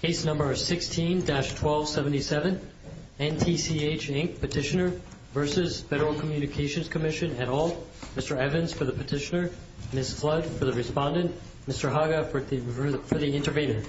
Case No. 16-1277 NTCH, Inc. Petitioner v. Federal Communications Commission et al. Mr. Evans for the petitioner, Ms. Flood for the respondent, Mr. Haga for the intervener.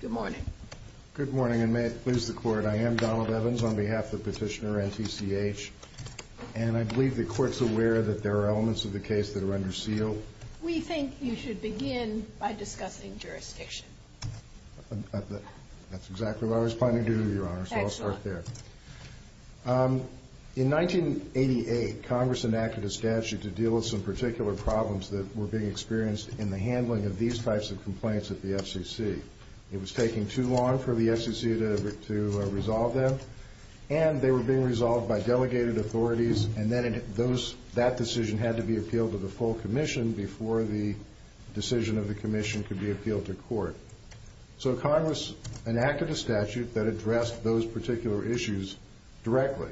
Good morning. Good morning, and may it please the Court, I am Donald Evans on behalf of the petitioner, NTCH, and I believe the Court's aware that there are elements of the case that are under seal. We think you should begin by discussing jurisdiction. That's exactly what I was planning to do, Your Honor, so I'll start there. In 1988, Congress enacted a statute to deal with some particular problems that were being experienced in the handling of these types of complaints at the FCC. It was taking too long for the FCC to resolve them, and they were being resolved by delegated authorities, and then that decision had to be appealed to the full Commission before the decision of the Commission could be appealed to Court. So Congress enacted a statute that addressed those particular issues directly.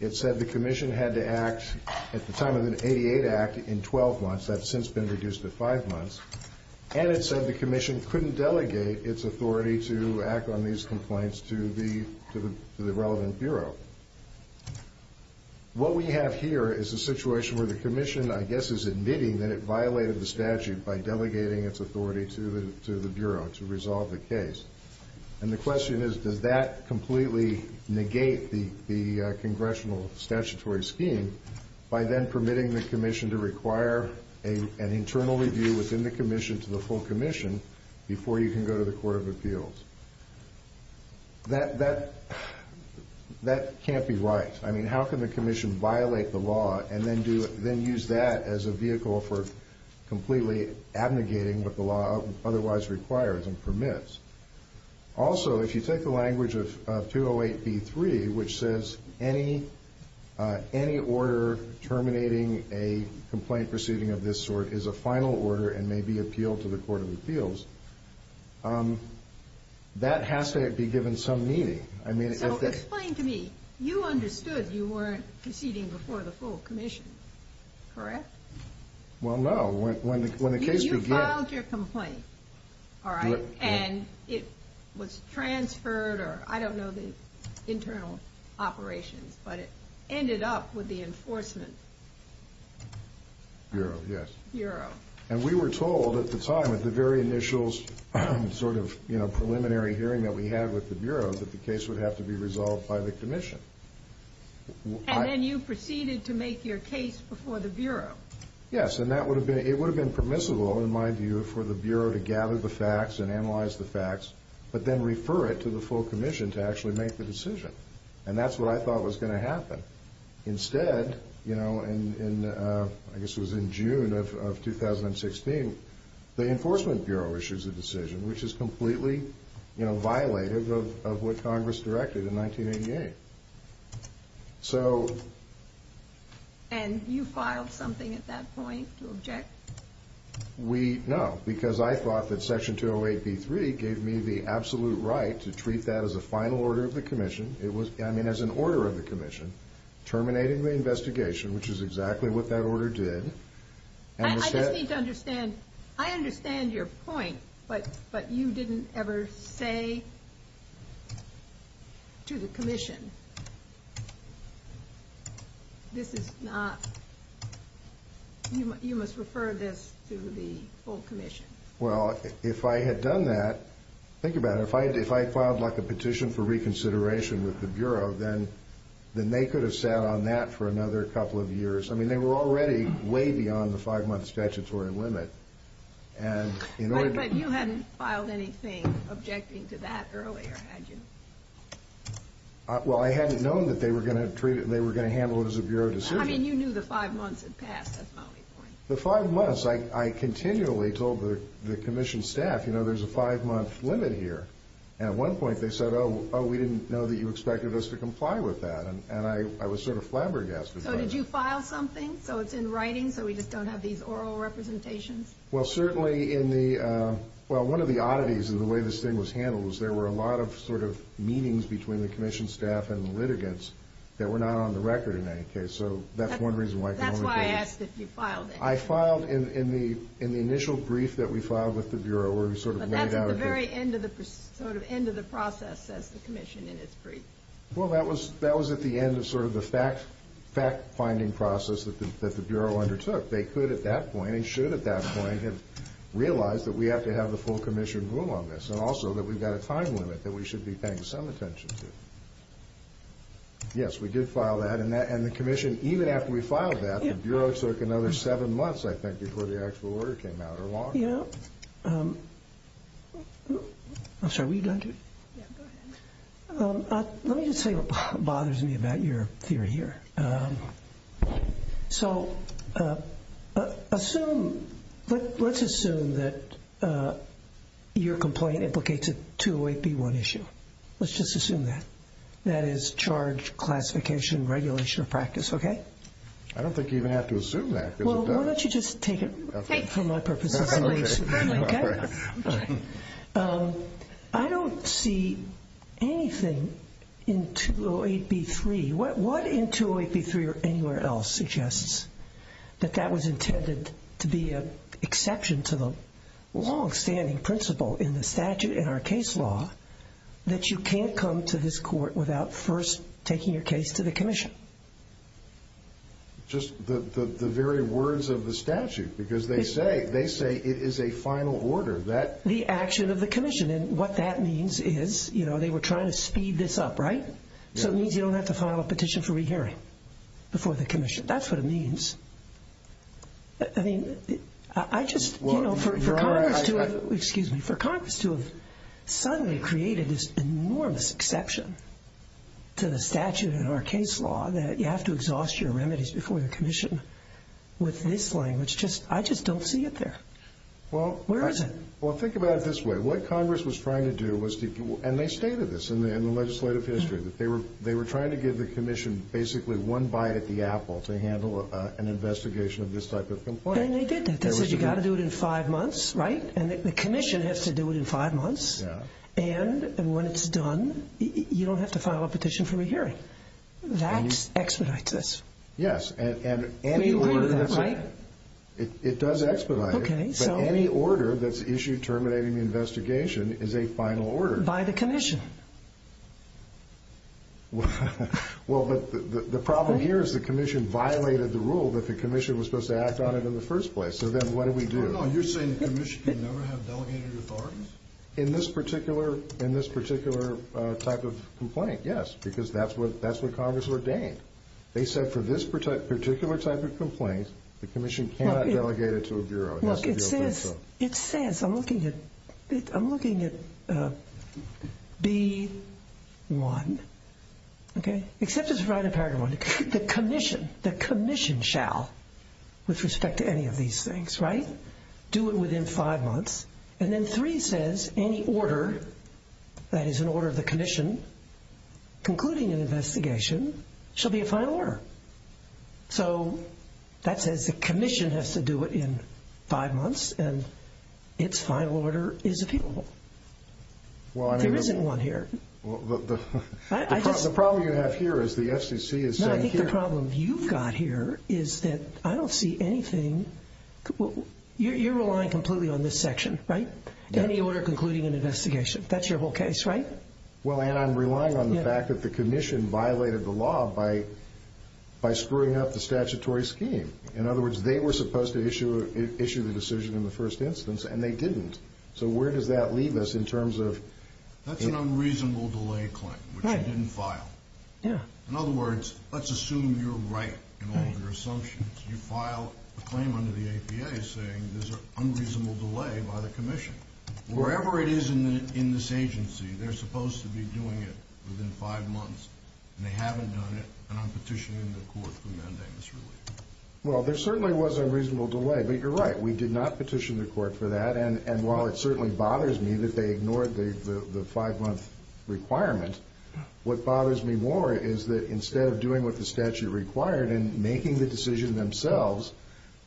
It said the Commission had to act at the time of the 1988 Act in 12 months, that's since been reduced to 5 months, and it said the Commission couldn't delegate its authority to act on these complaints to the relevant Bureau. What we have here is a situation where the Commission, I guess, is admitting that it violated the statute by delegating its authority to the Bureau to resolve the case. And the question is, does that completely negate the Congressional statutory scheme by then permitting the Commission to require an internal review within the Commission to the full Commission before you can go to the Court of Appeals? That can't be right. I mean, how can the Commission violate the law and then use that as a vehicle for completely abnegating what the law otherwise requires and permits? Also, if you take the language of 208B3, which says any order terminating a complaint proceeding of this sort is a final order and may be appealed to the Court of Appeals, that has to be given some meaning. I mean, if they... Well, no. When the case began... You filed your complaint, all right, and it was transferred, or I don't know the internal operations, but it ended up with the Enforcement Bureau. Yes. Bureau. And we were told at the time, at the very initials, sort of, you know, preliminary hearing that we had with the Bureau, that the case would have to be resolved by the case before the Bureau. Yes, and it would have been permissible, in my view, for the Bureau to gather the facts and analyze the facts, but then refer it to the full Commission to actually make the decision. And that's what I thought was going to happen. Instead, you know, I guess it was in June of 2016, the Enforcement Bureau issues a decision which is completely, you know, violative of what Congress directed in 1988. So... And you filed something at that point to object? We... No, because I thought that Section 208b3 gave me the absolute right to treat that as a final order of the Commission. It was, I mean, as an order of the Commission, terminating the investigation, which is exactly what that you didn't ever say to the Commission. This is not... You must refer this to the full Commission. Well, if I had done that, think about it. If I had filed, like, a petition for reconsideration with the Bureau, then they could have sat on that for another couple of years. I mean, they were already way beyond the five-month statutory limit. And in order to... You didn't do anything objecting to that earlier, had you? Well, I hadn't known that they were going to treat it, they were going to handle it as a Bureau decision. I mean, you knew the five months had passed. That's my only point. The five months, I continually told the Commission staff, you know, there's a five-month limit here. And at one point, they said, oh, we didn't know that you expected us to comply with that. And I was sort of flabbergasted by that. So did you file something so it's in writing, so we just don't have these oral representations? Well, certainly in the, well, one of the oddities in the way this thing was handled was there were a lot of sort of meanings between the Commission staff and the litigants that were not on the record in any case. So that's one reason why... That's why I asked if you filed anything. I filed in the, in the initial brief that we filed with the Bureau, where we sort of laid out... But that's at the very end of the, sort of end of the process, says the Commission in its brief. Well, that was, that was at the end of sort of the fact, fact-finding process that the Bureau undertook. They could at that point, and should at that point, have realized that we have to have the full Commission rule on this, and also that we've got a time limit that we should be paying some attention to. Yes, we did file that, and that, and the Commission, even after we filed that, the Bureau took another seven months, I think, before the actual order came out, or longer. Yeah. I'm sorry, were you going to? Yeah, go ahead. Let me just say what bothers me about your theory here. So assume, let's assume that your complaint implicates a 208b1 issue. Let's just assume that. That is, charge, classification, regulation of practice, okay? I don't think you even have to assume that, because it does. Well, why don't you just take it from my purposes and say, okay? I don't see anything in 208b3. What in 208b3, or anywhere else, suggests that that was intended to be an exception to the long-standing principle in the statute, in our case law, that you can't come to this court without first taking your case to the Commission? Just the very words of the statute, because they say it is a final order. The action of the Commission, and what that means is, you know, they were trying to speed this up, right? So it means you don't have to file a petition for rehearing before the Commission. That's what it means. I mean, I just, you know, for Congress to have, excuse me, for Congress to have suddenly created this enormous exception to the statute in our case law, that you have to exhaust your remedies before the Commission, with this language, just, I just don't see it there. Where is it? Well, think about it this way. What Congress was trying to do was to, and they stated this in the legislative history, that they were trying to give the Commission basically one bite at the apple to handle an investigation of this type of complaint. And they did that. They said you've got to do it in five months, right? And the Commission has to do it in five months, and when it's done, you don't have to file a petition for rehearing. That expedites this. Yes, and any order... We agree with that, right? It does expedite it, but any order that's issued terminating the investigation is a final order. By the Commission. Well, but the problem here is the Commission violated the rule that the Commission was supposed to act on it in the first place. So then what do we do? No, no, you're saying the Commission can never have delegated authorities? In this particular type of complaint, yes, because that's what Congress ordained. They said for this particular type of complaint, the Commission cannot delegate it to a Bureau. Look, it says, I'm looking at B1, okay? Except it's right in paragraph one. The Commission, the Commission shall, with respect to any of these things, right? Do it within five months. And then three says any order that is an order of the Commission concluding an investigation shall be a final order. So that says the Commission has to do it in five months and its final order is appealable. There isn't one here. The problem you have here is the FCC is saying here... No, I think the problem you've got here is that I don't see anything... You're relying completely on this section, right? Any order concluding an investigation. That's your whole case, right? Well, and I'm relying on the fact that the Commission violated the law by screwing up the statutory scheme. In other words, they were supposed to issue the decision in the first instance and they didn't. So where does that leave us in terms of... That's an unreasonable delay claim, which you didn't file. In other words, let's assume you're right in all of your assumptions. You file a claim under the APA saying there's an unreasonable delay by the Commission. Wherever it is in this agency, they're supposed to be doing it within five months. And they haven't done it, and I'm petitioning the court to mandate this relief. Well, there certainly was a reasonable delay, but you're right. We did not petition the court for that. And while it certainly bothers me that they ignored the five-month requirement, what bothers me more is that instead of doing what the statute required and making the decision themselves,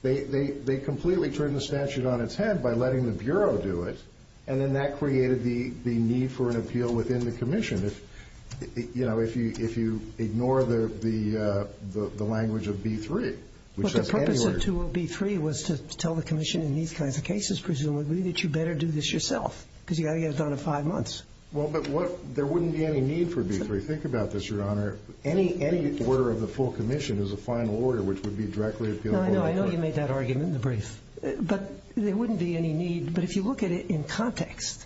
they completely turned the statute on its head by letting the Bureau do it, and then that created the need for an appeal within the Commission. You know, if you ignore the language of B-3, which says anywhere... Well, the purpose of B-3 was to tell the Commission in these kinds of cases, presumably, that you better do this yourself, because you've got to get it done in five months. Well, but there wouldn't be any need for B-3. Think about this, Your Honor. Any order of the full Commission is a final order, which would be directly appealable... But there wouldn't be any need. But if you look at it in context,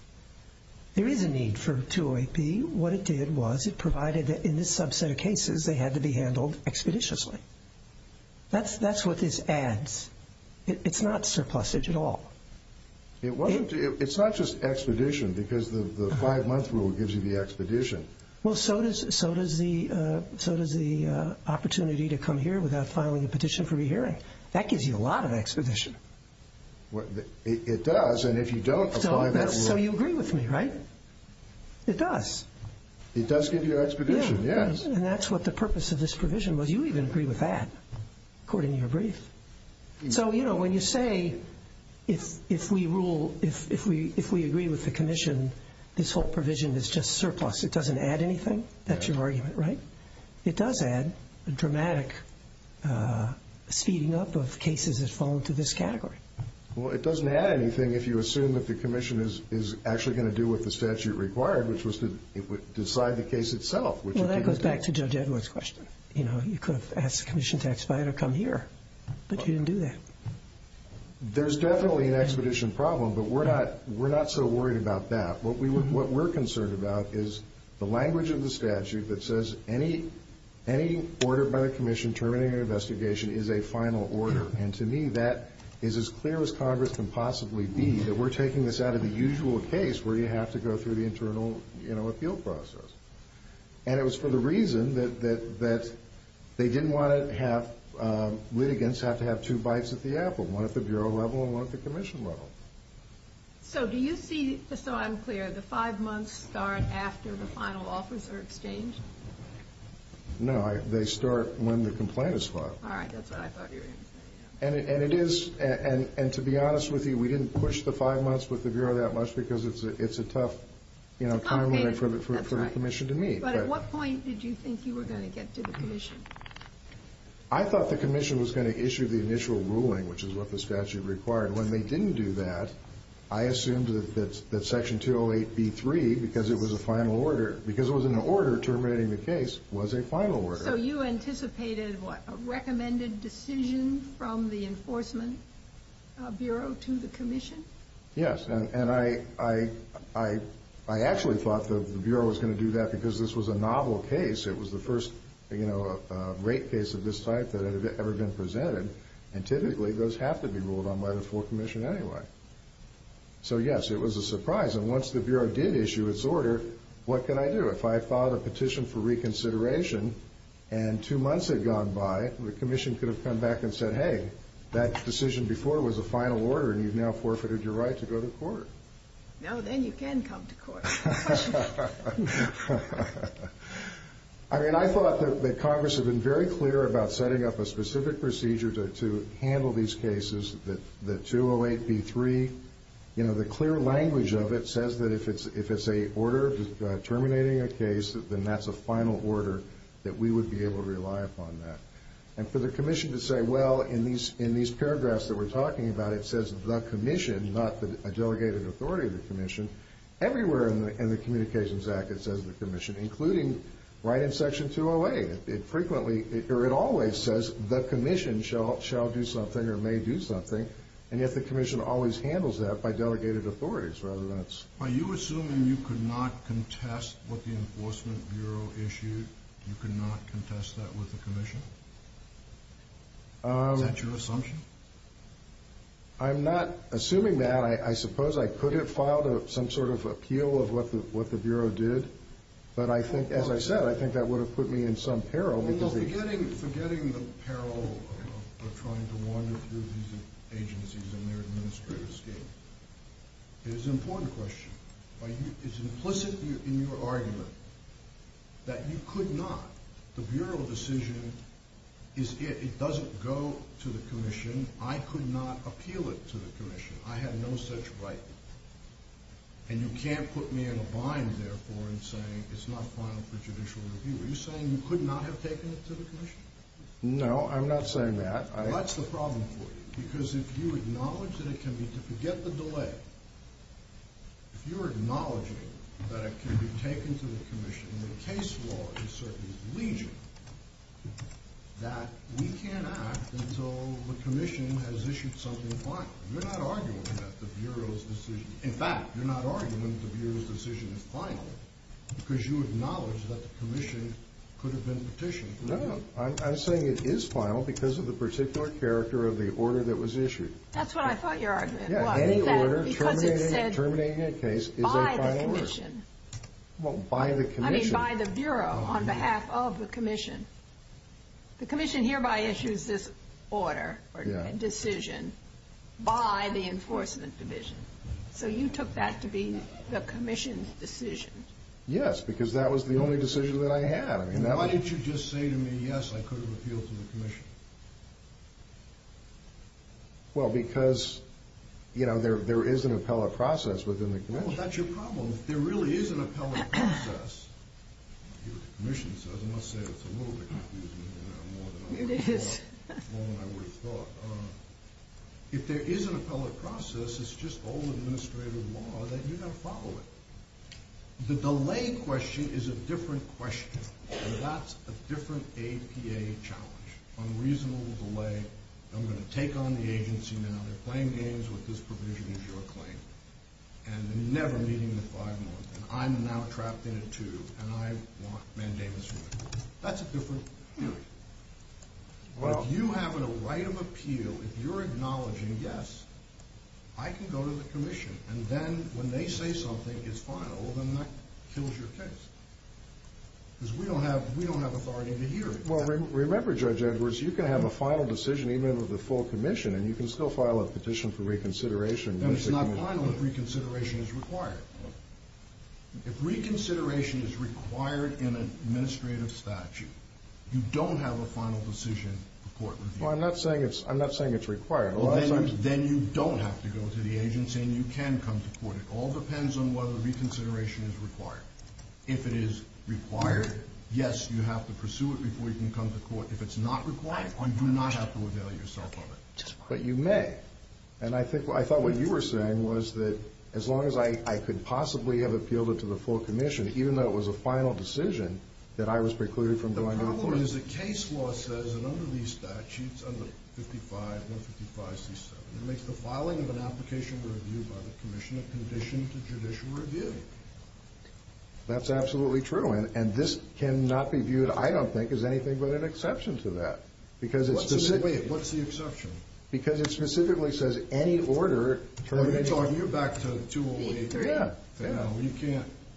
there is a need for 208B. What it did was it provided that in this subset of cases, they had to be handled expeditiously. That's what this adds. It's not surplusage at all. It's not just expedition, because the five-month rule gives you the expedition. Well, so does the opportunity to come here without filing a petition for rehearing. That gives you a lot of expedition. It does, and if you don't... So you agree with me, right? It does. It does give you expedition, yes. And that's what the purpose of this provision was. You even agree with that, according to your brief. So, you know, when you say, if we rule, if we agree with the Commission, this whole provision is just surplus. It doesn't add anything? That's your argument, right? It does add a dramatic speeding up of cases that fall into this category. Well, it doesn't add anything if you assume that the Commission is actually going to do what the statute required, which was to decide the case itself. Well, that goes back to Judge Edwards' question. You know, you could have asked the Commission to expedite or come here, but you didn't do that. There's definitely an expedition problem, but we're not so worried about that. What we're concerned about is the language of the statute that says, any order by the Commission terminating an investigation is a final order. And to me, that is as clear as Congress can possibly be, that we're taking this out of the usual case where you have to go through the internal, you know, appeal process. And it was for the reason that they didn't want to have litigants have to have two bites at the apple, one at the Bureau level and one at the Commission level. So do you see, just so I'm clear, the five months start after the final offers are exchanged? No, they start when the complaint is filed. All right, that's what I thought you were going to say. And it is, and to be honest with you, we didn't push the five months with the Bureau that much because it's a tough, you know, time for the Commission to meet. But at what point did you think you were going to get to the Commission? I thought the Commission was going to issue the initial ruling, which is what the statute required. When they didn't do that, I assumed that Section 208b3, because it was a final order, because it was an order terminating the case, was a final order. So you anticipated, what, a recommended decision from the Enforcement Bureau to the Commission? Yes, and I actually thought the Bureau was going to do that because this was a novel case. It was the first, you know, rape case of this type that had ever been presented. And typically, those have to be ruled on by the full Commission anyway. So yes, it was a surprise. And once the Bureau did issue its order, what could I do? If I filed a petition for reconsideration and two months had gone by, the Commission could have come back and said, hey, that decision before was a final order and you've now forfeited your right to go to court. No, then you can come to court. I mean, I thought that Congress had been very clear about setting up a specific procedure to handle these cases, that 208b3, you know, the clear language of it says that if it's an order terminating a case, then that's a final order that we would be able to rely upon that. And for the Commission to say, well, in these paragraphs that we're talking about, it says the Commission, not a delegated authority of the Commission, everywhere in the Communications Act it says the Commission, including right in Section 208. It frequently, or it always says the Commission shall do something or may do something. And yet the Commission always handles that by delegated authorities rather than it's... Are you assuming you could not contest what the Enforcement Bureau issued? You could not contest that with the Commission? Is that your assumption? I'm not assuming that. I suppose I could have filed some sort of appeal of what the Bureau did. But I think, as I said, I think that would have put me in some peril. Forgetting the peril of trying to wander through these agencies in their administrative scale. It is an important question. It's implicit in your argument that you could not. The Bureau decision is it. It doesn't go to the Commission. I could not appeal it to the Commission. I had no such right. And you can't put me in a bind, therefore, in saying it's not final for judicial review. Are you saying you could not have taken it to the Commission? No, I'm not saying that. Well, that's the problem for you. Because if you acknowledge that it can be... Forget the delay. If you're acknowledging that it can be taken to the Commission, and the case law is certainly legion, that we can't act until the Commission has issued something final. You're not arguing that the Bureau's decision... In fact, you're not arguing that the Bureau's decision is final, because you acknowledge that the Commission could have been petitioned. No, no. I'm saying it is final because of the particular character of the order that was issued. That's what I thought your argument was. Any order terminating a case is a final order. By the Commission. Well, by the Commission... I mean by the Bureau, on behalf of the Commission. The Commission hereby issues this order, or decision, by the Enforcement Division. So you took that to be the Commission's decision. Yes, because that was the only decision that I had. Why didn't you just say to me, yes, I could have appealed to the Commission? Well, because, you know, there is an appellate process within the Commission. Well, that's your problem. If there really is an appellate process, and I'll give it to the Commission, because I must say it's a little bit confusing, more than I would have thought. If there is an appellate process, it's just old administrative law that you've got to follow it. The delay question is a different question. And that's a different APA challenge. Unreasonable delay. I'm going to take on the agency now. They're playing games with this provision as your claim. And never meeting in five months. And I'm now trapped in a tube. And I want mandamus from you. That's a different hearing. If you have a right of appeal, if you're acknowledging, yes, I can go to the Commission. And then, when they say something is final, then that kills your case. Because we don't have authority to hear it. Well, remember, Judge Edwards, you can have a final decision even with the full Commission, and you can still file a petition for reconsideration. And it's not final if reconsideration is required. If reconsideration is required in an administrative statute, you don't have a final decision for court review. Well, I'm not saying it's required. Then you don't have to go to the agency, and you can come to court. It all depends on whether reconsideration is required. If it is required, yes, you have to pursue it before you can come to court. If it's not required, you do not have to avail yourself of it. But you may. And I thought what you were saying was that as long as I could possibly have appealed it to the full Commission, even though it was a final decision, that I was precluded from going to court. The problem is that case law says that under these statutes, under 55, 155C7, it makes the filing of an application for review by the Commission a condition to judicial review. That's absolutely true. And this cannot be viewed, I don't think, as anything but an exception to that. What's the exception? Because it specifically says any order. You're back to 208B3.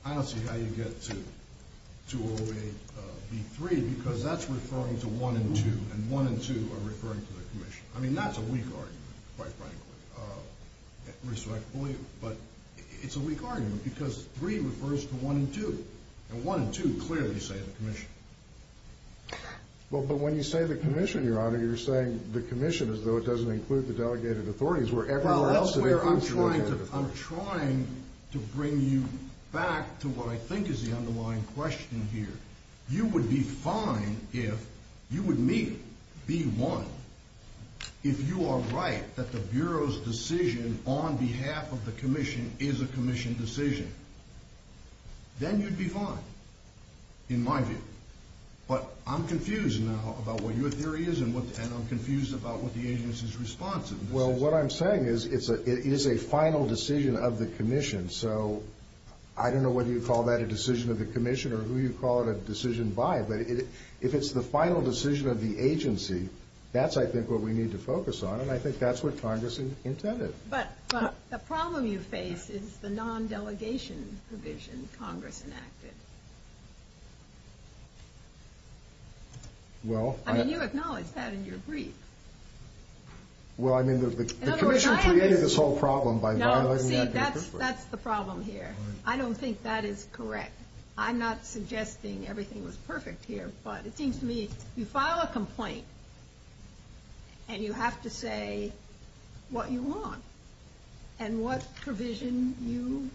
I don't see how you get to 208B3 because that's referring to 1 and 2, and 1 and 2 are referring to the Commission. I mean, that's a weak argument, quite frankly. But it's a weak argument because 3 refers to 1 and 2, But when you say the Commission, Your Honor, you're saying the Commission as though it doesn't include the delegated authorities. Well, that's where I'm trying to bring you back to what I think is the underlying question here. You would be fine if you would meet B1 if you are right that the Bureau's decision on behalf of the Commission is a Commission decision. Then you'd be fine, in my view. But I'm confused now about what your theory is and I'm confused about what the agency's response is. Well, what I'm saying is it is a final decision of the Commission. So I don't know whether you call that a decision of the Commission or who you call it a decision by, but if it's the final decision of the agency, that's, I think, what we need to focus on, and I think that's what Congress intended. But the problem you face is the non-delegation provision Congress enacted. I mean, you acknowledged that in your brief. Well, I mean, the Commission created this whole problem by violating that paper. No, see, that's the problem here. I don't think that is correct. I'm not suggesting everything was perfect here, but it seems to me you file a complaint and you have to say what you want and what provision you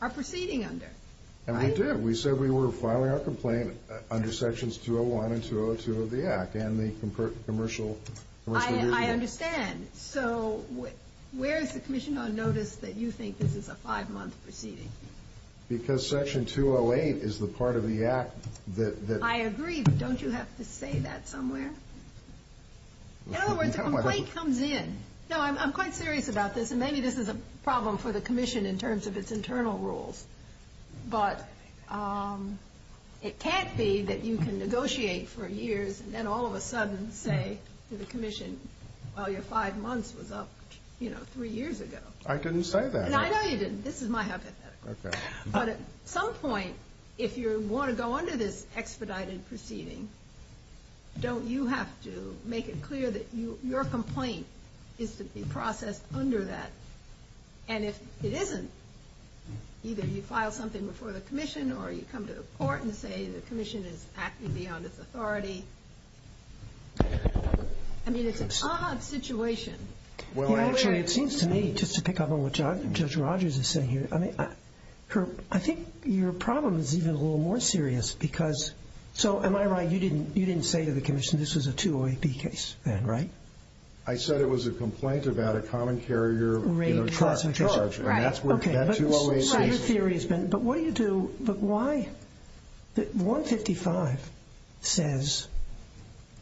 are proceeding under. And we did. We said we were filing our complaint under Sections 201 and 202 of the Act and the commercial agreement. I understand. So where is the Commission on notice that you think this is a five-month proceeding? Because Section 208 is the part of the Act that... I agree, but don't you have to say that somewhere? In other words, a complaint comes in. No, I'm quite serious about this, and maybe this is a problem for the Commission in terms of its internal rules, but it can't be that you can negotiate for years and then all of a sudden say to the Commission, well, your five months was up, you know, three years ago. I didn't say that. And I know you didn't. This is my hypothetical. Okay. But at some point, if you want to go under this expedited proceeding, don't you have to make it clear that your complaint is to be processed under that? And if it isn't, either you file something before the Commission or you come to the court and say the Commission is acting beyond its authority. I mean, it's an odd situation. Actually, it seems to me, just to pick up on what Judge Rogers is saying here, I think your problem is even a little more serious because... So am I right, you didn't say to the Commission this was a 208B case then, right? I said it was a complaint about a common carrier charge. And that's where that 208B... But what do you do? But why? 155 says,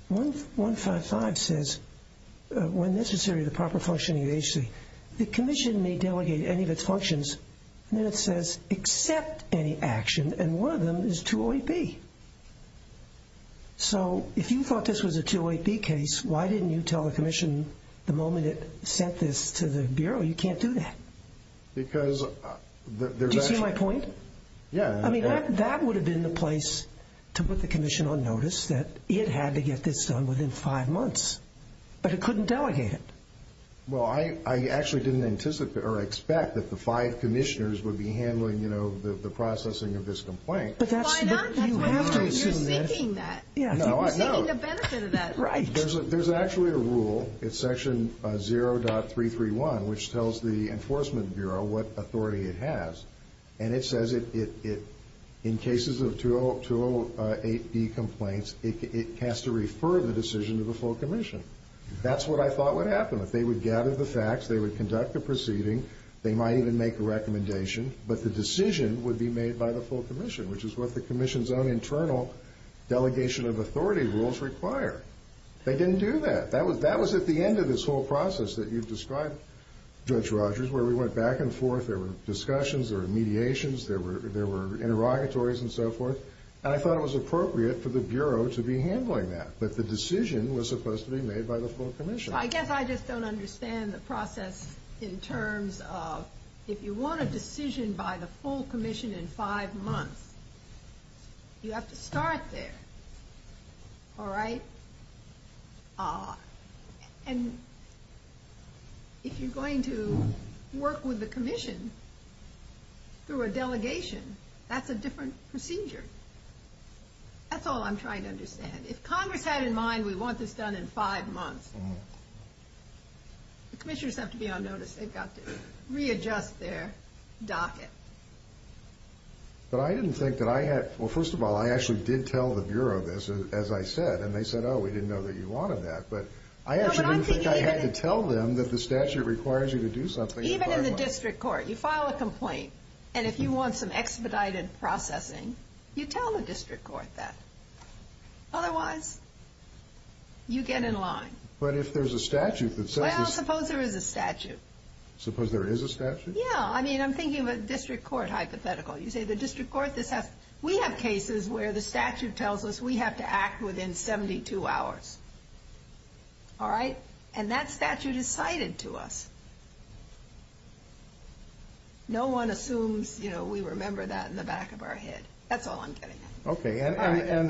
155 says, when necessary, the proper functioning of the agency. The Commission may delegate any of its functions, and then it says accept any action, and one of them is 208B. So if you thought this was a 208B case, why didn't you tell the Commission the moment it sent this to the Bureau, you can't do that? Because... Do you see my point? Yeah. I mean, that would have been the place to put the Commission on notice, that it had to get this done within 5 months. But it couldn't delegate it. Well, I actually didn't anticipate or expect that the five commissioners would be handling, you know, the processing of this complaint. But that's... Why not? You're seeking that. You're seeking the benefit of that. Right. There's actually a rule, it's section 0.331, which tells the Enforcement Bureau what authority it has, and it says it, in cases of 208B complaints, it has to refer the decision to the full Commission. That's what I thought would happen. If they would gather the facts, they would conduct the proceeding, they might even make a recommendation, but the decision would be made by the full Commission, which is what the Commission's own internal delegation of authority rules require. They didn't do that. That was at the end of this whole process that you've described, Judge Rogers, where we went back and forth, there were discussions, there were mediations, there were interrogatories and so forth, and I thought it was appropriate for the Bureau to be handling that. But the decision was supposed to be made by the full Commission. I guess I just don't understand the process in terms of, if you want a decision by the full Commission in 5 months, you have to start there. All right? And if you're going to work with the Commission through a delegation, that's a different procedure. That's all I'm trying to understand. If Congress had in mind, we want this done in 5 months, the Commissioners have to be on notice. They've got to readjust their docket. But I didn't think that I had... Well, first of all, I actually did tell the Bureau this, as I said, and they said, oh, we didn't know that you wanted that. But I actually didn't think I had to tell them that the statute requires you to do something in 5 months. Even in the district court, you file a complaint, and if you want some expedited processing, you tell the district court that. Otherwise, you get in line. But if there's a statute that says... Well, suppose there is a statute. Suppose there is a statute? Yeah, I mean, I'm thinking of a district court hypothetical. You say the district court... We have cases where the statute tells us we have to act within 72 hours. All right? And that statute is cited to us. No one assumes we remember that in the back of our head. That's all I'm getting at. Okay.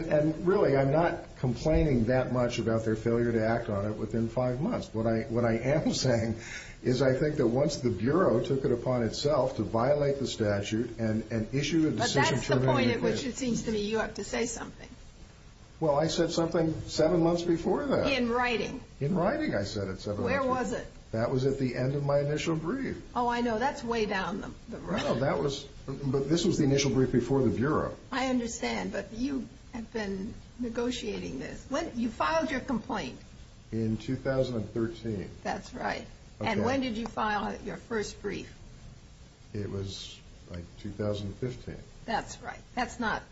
And really, I'm not complaining that much about their failure to act on it within 5 months. What I am saying is I think that once the Bureau took it upon itself to violate the statute and issue a decision... But that's the point at which it seems to me you have to say something. Well, I said something 7 months before that. In writing. In writing, I said it 7 months before. Where was it? That was at the end of my initial brief. Oh, I know. That's way down the road. No, that was... But this was the initial brief before the Bureau. I understand, but you have been negotiating this. You filed your complaint. In 2013. That's right. And when did you file your first brief? It was like 2015. That's right. That's not...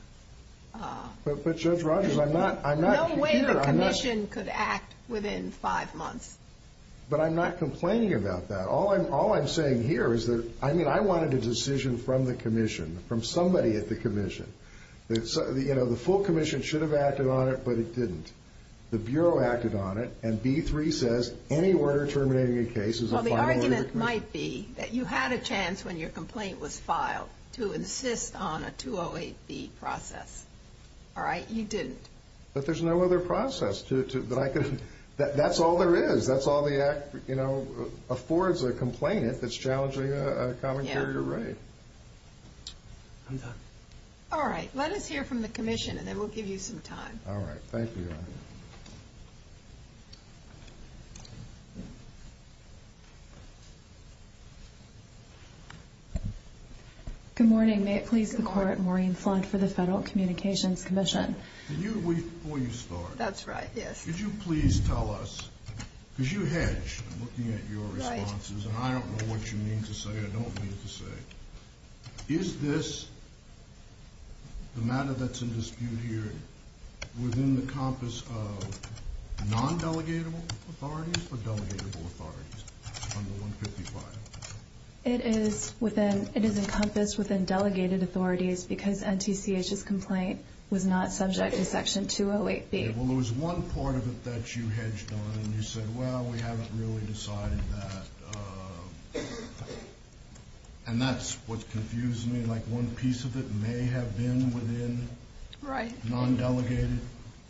But Judge Rogers, I'm not... No way the Commission could act within 5 months. But I'm not complaining about that. All I'm saying here is that... I mean, I wanted a decision from the Commission, from somebody at the Commission. You know, the full Commission should have acted on it, but it didn't. The Bureau acted on it, and B-3 says any order terminating a case is a final agreement. Well, the argument might be that you had a chance when your complaint was filed to insist on a 208B process. All right? You didn't. But there's no other process that I could... That's all there is. That's all the Act, you know, affords a complainant that's challenging a common carrier raid. I'm done. All right. Let us hear from the Commission, and then we'll give you some time. All right. Thank you, Your Honor. Thank you. Good morning. May it please the Court, Maureen Flund for the Federal Communications Commission. Can you... Before you start... That's right, yes. Could you please tell us... Because you hedge looking at your responses, and I don't know what you mean to say or don't mean to say. Is this the matter that's in dispute here within the compass of non-delegatable authorities or delegatable authorities under 155? It is within... It is encompassed within delegated authorities because NTCH's complaint was not subject to Section 208b. Well, there was one part of it that you hedged on, and you said, well, we haven't really decided that. And that's what confused me. Like, one piece of it may have been within... Right. ...non-delegated...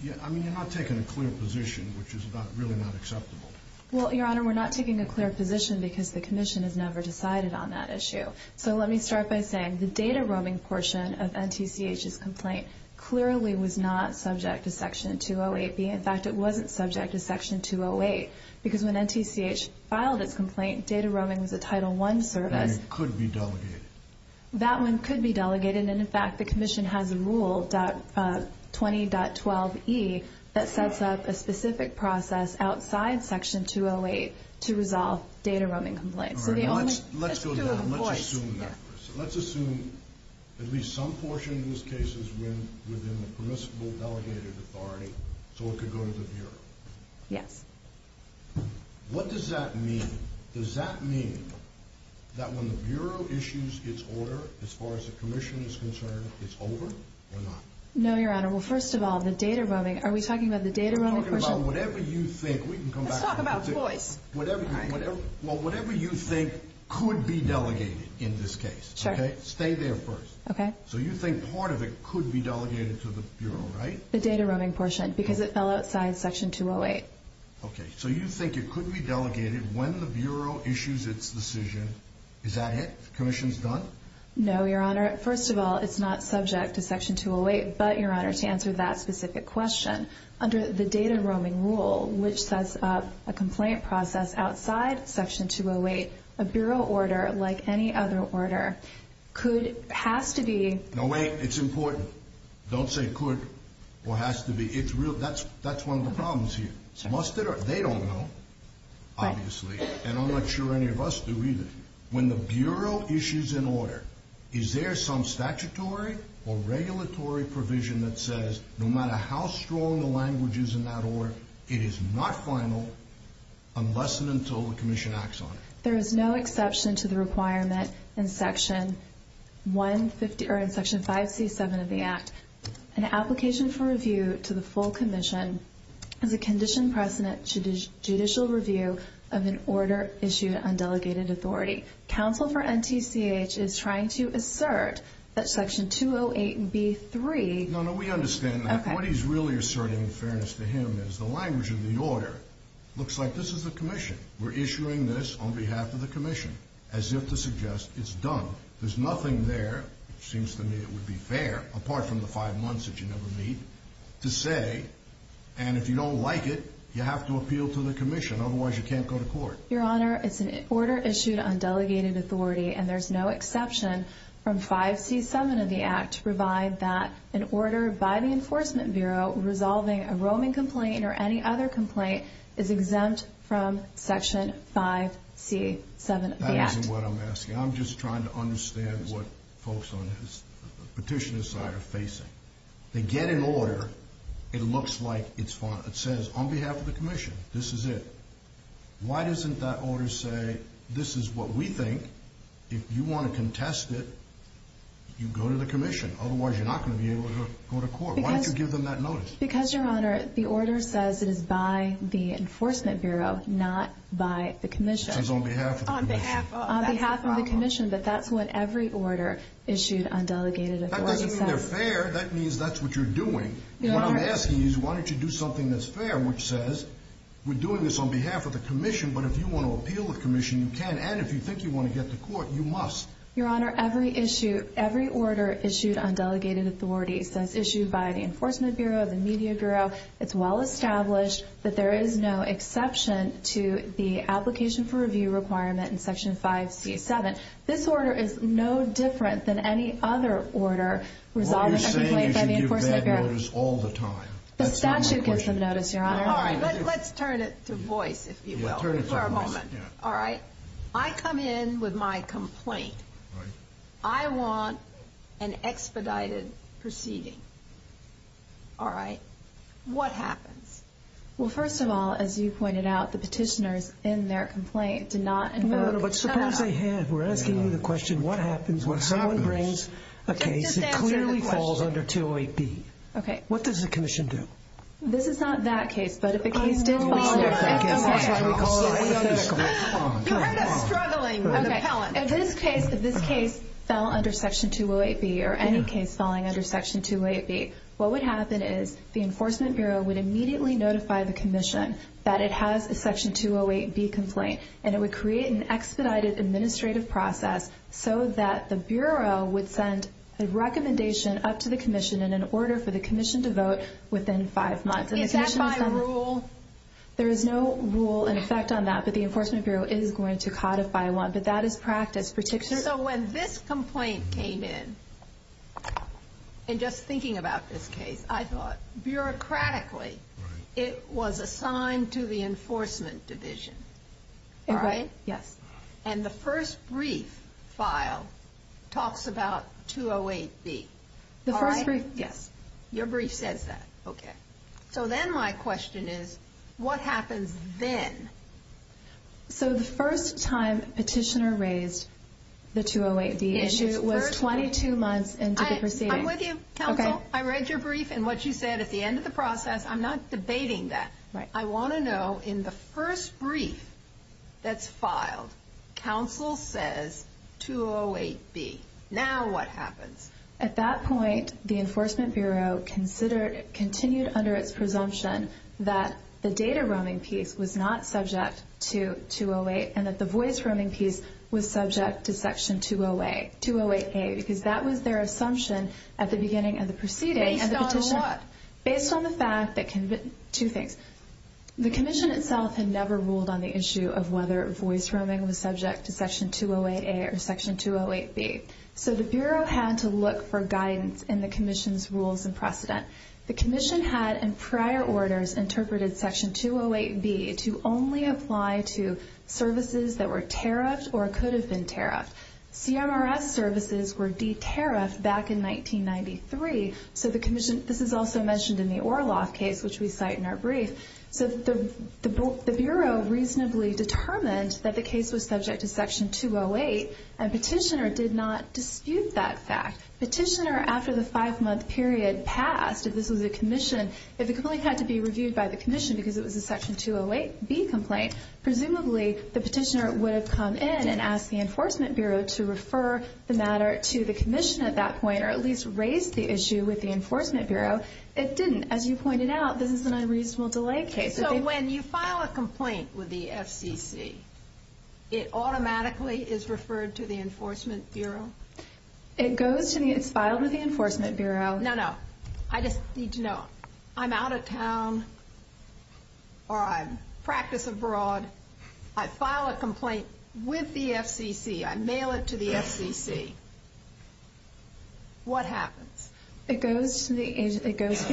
Yeah, I mean, you're not taking a clear position, which is really not acceptable. Well, Your Honor, we're not taking a clear position because the Commission has never decided on that issue. So let me start by saying the data-roaming portion of NTCH's complaint clearly was not subject to Section 208b. In fact, it wasn't subject to Section 208 because when NTCH filed its complaint, And it could be delegated. That one could be delegated, and in fact, the Commission has a rule 20.12e that sets up a specific process outside Section 208 to resolve data-roaming complaints. So the only... Let's go down. Let's assume that. Let's assume at least some portion of these cases went within the permissible delegated authority so it could go to the Bureau. Yes. What does that mean? Does that mean that when the Bureau issues its order, as far as the Commission is concerned, it's over or not? No, Your Honor. Well, first of all, the data-roaming... Are we talking about the data-roaming portion? We're talking about whatever you think. Let's talk about choice. Well, whatever you think could be delegated in this case. Sure. Stay there first. Okay. So you think part of it could be delegated to the Bureau, right? The data-roaming portion because it fell outside Section 208. Okay. So you think it could be delegated when the Bureau issues its decision. Is that it? The Commission's done? No, Your Honor. First of all, it's not subject to Section 208, but, Your Honor, to answer that specific question, under the data-roaming rule, which sets up a complaint process outside Section 208, a Bureau order, like any other order, could... has to be... No, wait. It's important. Don't say could or has to be. It's real. That's one of the problems here. Must it or... They don't know, obviously, and I'm not sure any of us do either. When the Bureau issues an order, is there some statutory or regulatory provision that says, no matter how strong the language is in that order, it is not final unless and until the Commission acts on it? There is no exception to the requirement in Section 150... or in Section 5C7 of the Act. An application for review to the full Commission has a conditioned precedent to judicial review of an order issued on delegated authority. Counsel for NTCH is trying to assert that Section 208B3... No, no. We understand that. What he's really asserting in fairness to him is the language of the order looks like this is the Commission. We're issuing this on behalf of the Commission as if to suggest it's done. There's nothing there, which seems to me it would be fair, apart from the five months that you never meet, to say, and if you don't like it, you have to appeal to the Commission, otherwise you can't go to court. Your Honor, it's an order issued on delegated authority and there's no exception from 5C7 of the Act to provide that an order by the Enforcement Bureau resolving a roaming complaint or any other complaint is exempt from Section 5C7 of the Act. That isn't what I'm asking. I'm just trying to understand what folks on the petitioner's side are facing. They get an order. It looks like it's fine. It says, on behalf of the Commission, this is it. Why doesn't that order say, this is what we think. If you want to contest it, you go to the Commission. Otherwise, you're not going to be able to go to court. Why don't you give them that notice? Because, Your Honor, the order says it is by the Enforcement Bureau, not by the Commission. It says, on behalf of the Commission. On behalf of the Commission, but that's what every order issued on delegated authority says. That doesn't mean they're fair. That means that's what you're doing. What I'm asking is, why don't you do something that's fair, which says, we're doing this on behalf of the Commission, but if you want to appeal to the Commission, you can, and if you think you want to get to court, you must. Your Honor, every issue, every order issued on delegated authority says issued by the Enforcement Bureau, the Media Bureau. It's well established that there is no exception for review requirement in Section 5C7. This order is no different than any other order by the Enforcement Bureau. Well, you're saying you should give bad orders all the time. That's not my question. The statute gives them notice, Your Honor. All right, let's turn it to voice, if you will, for a moment. All right. I come in with my complaint. I want an expedited proceeding. All right. What happens? Well, first of all, as you pointed out, the petitioners in their complaint did not invoke the statute. No, no, no, but suppose they have. We're asking you the question, what happens when someone brings a case that clearly falls under 208B? Okay. What does the Commission do? This is not that case, but if a case did fall under 208B, you heard us struggling with appellants. Okay, if this case fell under Section 208B, or any case falling under Section 208B, what would happen is the Enforcement Bureau would immediately notify the Commission that it has a Section 208B complaint, and it would create an expedited administrative would send a recommendation up to the Commission in an order for the Commission to vote within five months. Is that by rule? Is that by rule? Yes, it is. Okay. Is that by rule? There is no rule in effect on that, but the Enforcement Bureau is going to codify one, but that is practice. So, when this complaint came in, and just thinking about this case, I thought, bureaucratically, it was assigned to the Enforcement Division. Right? Yes. The first brief? Yes. Your brief says that. Okay. So, then my question is, what happens when someone brings a case that clearly falls under 208B? My question is, what happens then? So, the first time Petitioner raised the 208B issue was 22 months into the proceeding. I'm with you, Counsel. I read your brief and what you said at the end of the process. I'm not debating that. Right. I want to know, in the first brief that's filed, Counsel says, 208B. Now, what happens? At that point, the Enforcement Bureau continued under its presumption that the data roaming piece was not subject to 208 and that the voice roaming piece was subject to Section 208A because that was their assumption at the beginning of the proceeding. Based on what? Based on the fact that two things. The Commission itself had never ruled on the issue of whether voice roaming was subject to Section 208A or Section 208B. So, the Bureau had to look for guidance in the Commission's rules and precedent. The Commission had, in prior orders, interpreted Section 208B to only apply to services that were tariffed or could have been tariffed. CMRS services were de-tariffed back in 1993. So, the Commission, this is also mentioned in the Orloff case, which we cite in our brief. So, the Bureau reasonably determined that the case was subject to Section 208 and Petitioner did not dispute that fact. Petitioner, after the five-month period passed, if this was a Commission, if the complaint had to be reviewed by the Commission because it was a Section 208B complaint, presumably, the Petitioner would have come in and asked the Enforcement Bureau to refer the matter to the Commission at that point or at least raise the issue with the Enforcement Bureau. It didn't. As you pointed out, this is an unreasonable delay case. So, when you file a complaint with the FCC, it automatically is referred to the Enforcement Bureau? It's filed with the Enforcement Bureau. No, no. I just need to know. I'm out of town or I'm practice abroad. I file a complaint with the FCC. I mail it to the FCC. What happens? It goes to the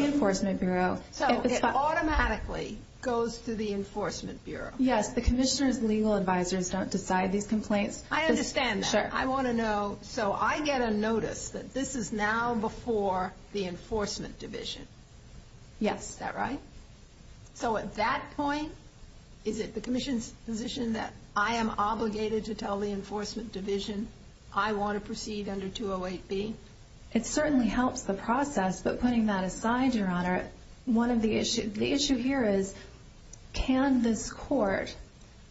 Enforcement Bureau. So, it automatically goes to the Enforcement Bureau? Yes, the Commissioner's legal advisors don't decide these complaints. I understand that. I want to know, so I get a notice that this is now before the Enforcement Division. Yes. Is that right? So, at that point, is it the Commission's position that I am obligated to tell the Enforcement Division I want to proceed under 208B? It certainly helps the process, but putting that aside, Your Honor, one of the issues, the issue here is can this court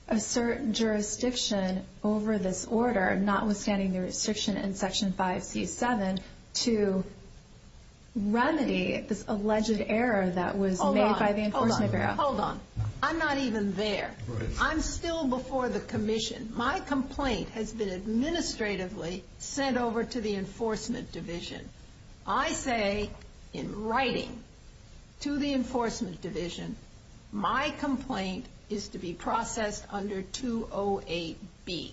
assert jurisdiction over this order notwithstanding the restriction in Section 5C7 to remedy this alleged error that was made by the Enforcement Bureau? Hold on. Hold on. I'm not even there. I'm still before the Commission. My complaint has been administratively sent over to the Enforcement Division. I say, in writing, to the Enforcement Division, my complaint is to be processed under 208B.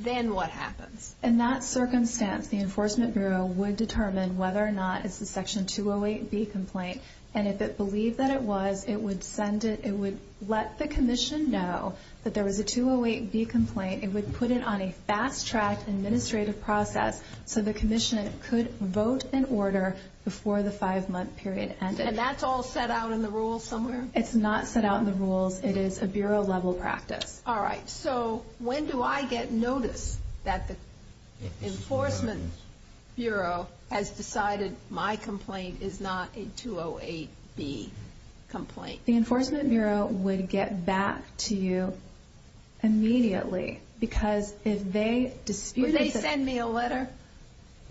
Then what happens? In that circumstance, the Enforcement Bureau would determine whether or not it's the Section 208B complaint, and if it believed that it was, it would send it, it would let the Commission know that there was a 208B complaint, it would put it on a fast-tracked administrative process so the Commission could vote in order before the five-month period ended. And that's all set out in the rules somewhere? It's not set out in the rules. It is a Bureau-level practice. All right. So when do I get notice that the Enforcement Bureau has decided my complaint is not a 208B complaint? The Enforcement Bureau would get back to you immediately, because if they dispute it... me a letter?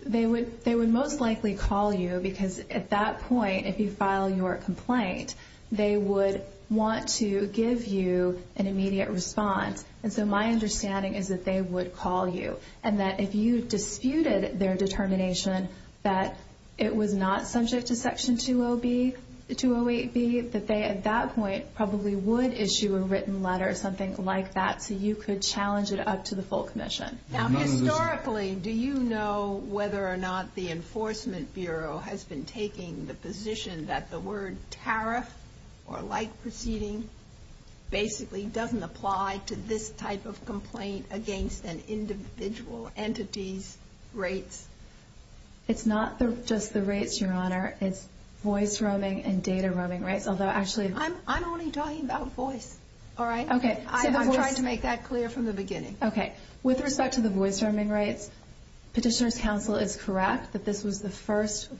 They would most likely call you, because at that point, if you file your complaint, they would want to give you a letter saying that they would give you an immediate response. And so my understanding is that they would call you, and that if you disputed their determination that it was not subject to Section 208B, that they, at that point, probably would issue a written letter or something like that, so you could challenge it up to the full Commission. Now, historically, do you know whether or not the Enforcement Bureau has been taking the position that the word tariff, or like proceeding, basically doesn't apply to this type of complaint against an individual entity's rates? It's not just the rates, Your Honor. It's voice-roaming and data-roaming rates, although actually... I'm only talking about voice, all right? Okay. I'm trying to make that clear from the beginning. Okay. With respect to the voice-roaming rates, Petitioner's Counsel is correct that this was the first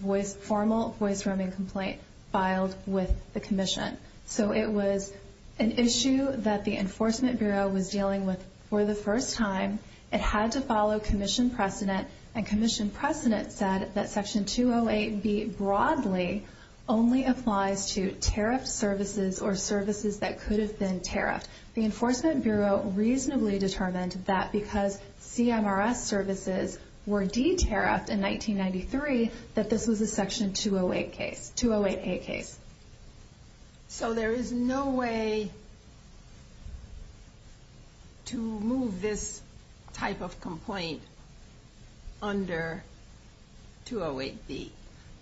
formal voice-roaming complaint filed with the Commission. So it was an issue that the Enforcement Bureau was dealing with for the first time. It had to follow Commission precedent, and Commission precedent said that Section 208B, broadly, only applies to tariff services or services that could have been tariffed. The Enforcement Bureau reasonably determined that because CMRS services were de-tariffed in 1993, that this was a Section 208 case. 208A case. So there is no way to move this type of complaint under 208B?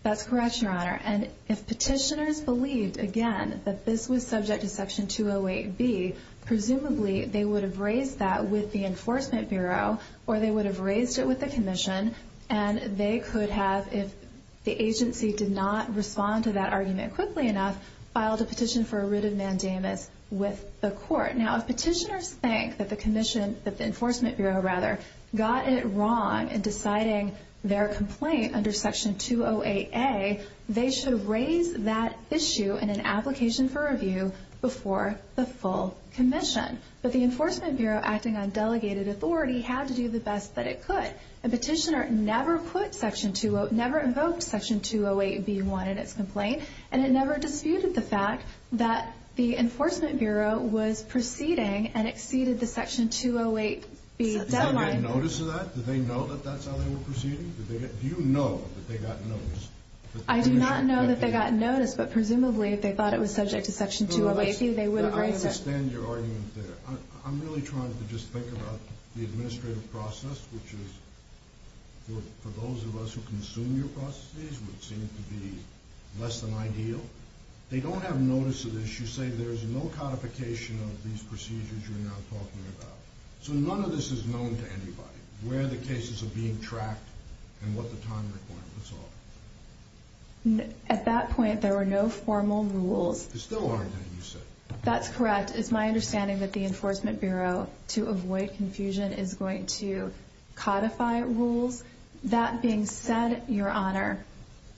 That's correct, Your Honor. And if Petitioner's believed, again, that this was subject to Section 208B, presumably, they would have raised that with the Enforcement Bureau, or they would have raised it with the Commission, and they could have, if the agency did not respond to that argument quickly enough, filed a petition for a writ of mandamus with the Court. Now, if Petitioner's think that the Enforcement Bureau got it wrong in deciding their complaint under Section 208A, they should raise that issue in an application for review before the full Commission. But the Enforcement Bureau, acting on delegated authority, had to do the best that it could. And Petitioner never invoked Section 208B1 in its complaint, and it never disputed the fact that the Enforcement Bureau was proceeding and exceeded the Section 208B deadline. Did they get notice of that? Did they know that that's how they were proceeding? Do you know that they got notice? I do not know that they got notice, but presumably if they thought it was subject to Section 208B, they would have raised it. I understand your argument there. I'm really trying to just think about the administrative process, which is, for those of us who consume your processes, would seem to be less than ideal. They don't have notice of this. You say there's no codification of these procedures you are now talking about. So none of this is known to anybody. Where the cases are being tracked and what the time requirements are. At that point, there were no formal rules. There still aren't, you said. That's correct. It's my understanding that the Enforcement Bureau, to avoid confusion, is going to codify rules. That being said, Your Honor,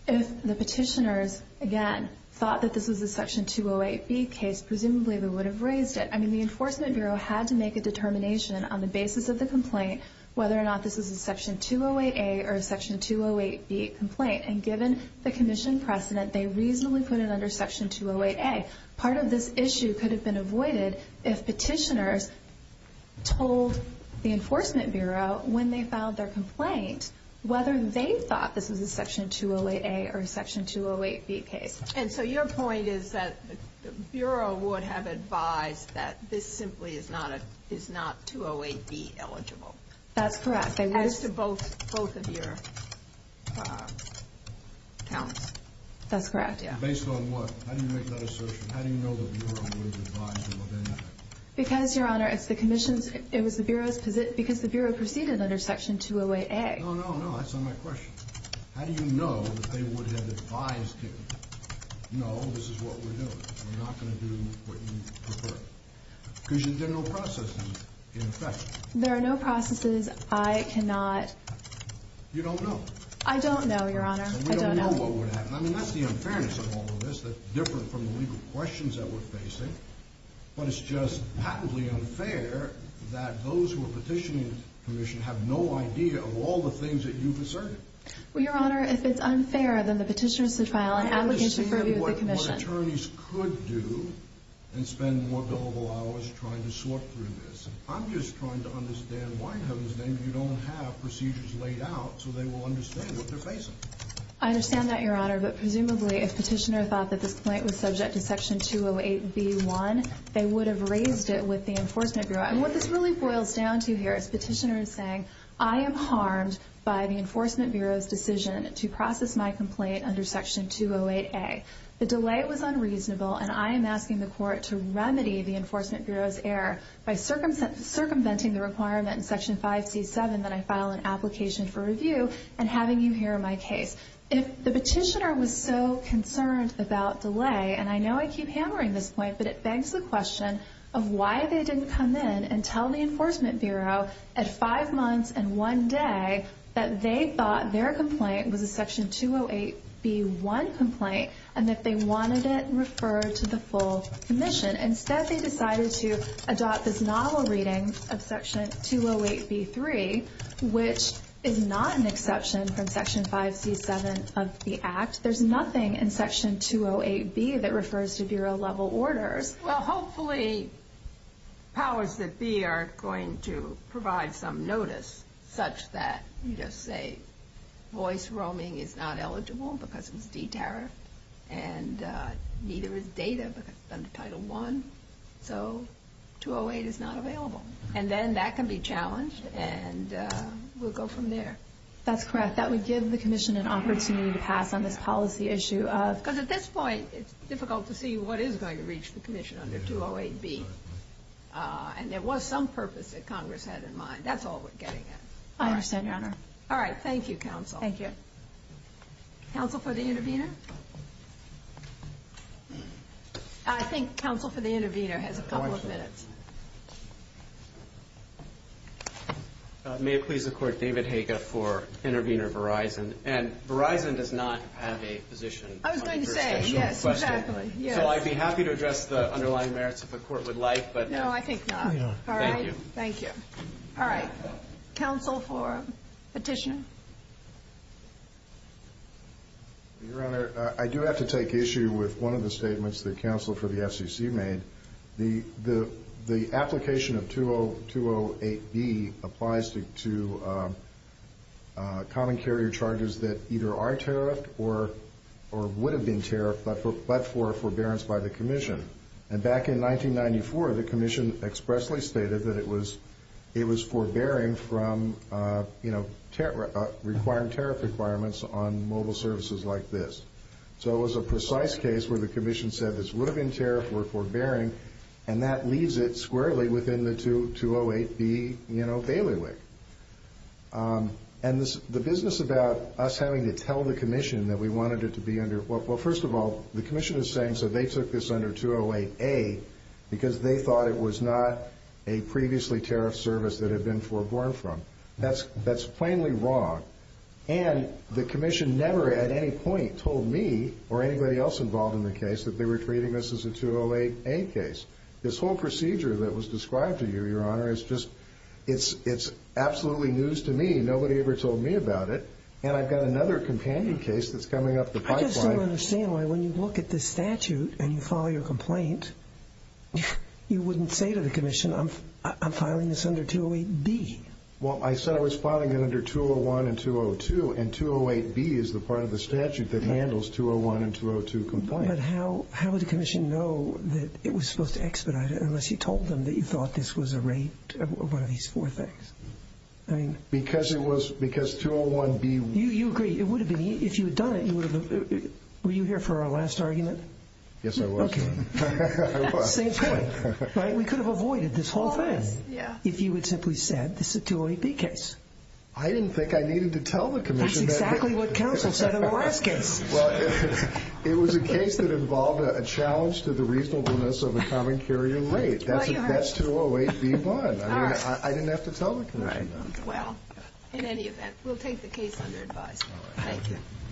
if the petitioners, again, thought that this was a Section 208B case, presumably they would have raised it. The Enforcement Bureau had to make a determination on the basis of the complaint whether this was a Section 208A or Section 208B complaint. Given the Commission precedent, they reasonably put it under Section 208A. Part of this issue could have been avoided if petitioners told the Enforcement Bureau when they filed their complaint whether they thought this was a Section 208A or Section 208B case. And so your point is that the Bureau would have advised that this simply is not 208B That's correct. As to both of your counts. That's correct. Based on what? How do you make that assertion? How do you make that assertion? There are no processes. I cannot You don't know? I don't know, Your Honor. I don't know. I mean, that's the unfairness of all of this. It's different from the legal questions that we're facing but it's just patently unfair that those who are petitioning the Commission have no idea of all the things that you've asserted. Well, Your Honor, if it's unfair then the petitioner is to file an application for review of the Commission. I understand what attorneys could do and spend more billable hours trying to sort through this. I'm just trying to understand why in Heaven's name they would have raised it with the Enforcement Bureau. I am harmed by the Enforcement Bureau's decision to process my complaint under Section 208A. The delay was unreasonable and I am asking the Court to remedy the Enforcement Bureau's error by circumventing the requirement in Section 5C7 that I file an application for review of the Court to remedy the Enforcement Bureau's error by in Section 5C7 that I file an application for review of the Enforcement Bureau's complaint. I am asking the Court to remedy the Enforcement Bureau's error by circumventing the requirement in Section 5C7 that I file an application for review of the Enforcement Bureau's complaint under Section 5C7 that I file an application for review of the Enforcement Bureau's complaint under Section 5C7 that I file an application for review of the Enforcement Bureau's application for review of the Enforcement Bureau's complaint under Section 5C7 that I am happy to address the underlying merits if the court would like. I do have to take issue with one of the statements the FCC made. The application of 208B applies to common carrier charges that are tariffed or would have been tariffed but for forbearance by the commission. Back in 1994 the commission expressly stated it was forbearing from requiring tariff requirements on mobile services like this. It was a precise case where the commission said this would have been tariffed and that leaves it squarely within the 208B bailiwick. The commission is saying they took this under 208A because they thought it was not a previously tariffed service. That is plainly wrong. The commission never at any point told me or anybody else involved in the case that they were treating this as a 208A case. This whole procedure that was described to you your honor is just absolutely news to me. Nobody ever told me about it. And I've got another companion case that's coming up. I just don't understand why when you look at this statute and file your complaint you wouldn't say to the commission I'm filing this under 208B. I said I was filing it under 201 and 202 and 208B is the part of the statute that handles 201 and 202 and 203 and 207 and 208 and 209. How would the commission know that it was supposed to expedite it unless you told them that you thought this was a rape of one of these four things. You agree, if you had done it, were you here for our last argument? Yes, I was. We could have avoided this whole thing if you had simply said this is a 208B case. I didn't think I needed to tell the commission. That's exactly what counsel said in the last case. It was a case that involved a challenge to the reasonableness of a common carrier rape. That's a 208B bond. I didn't have to tell the commission. In any event, we'll take the case under advice.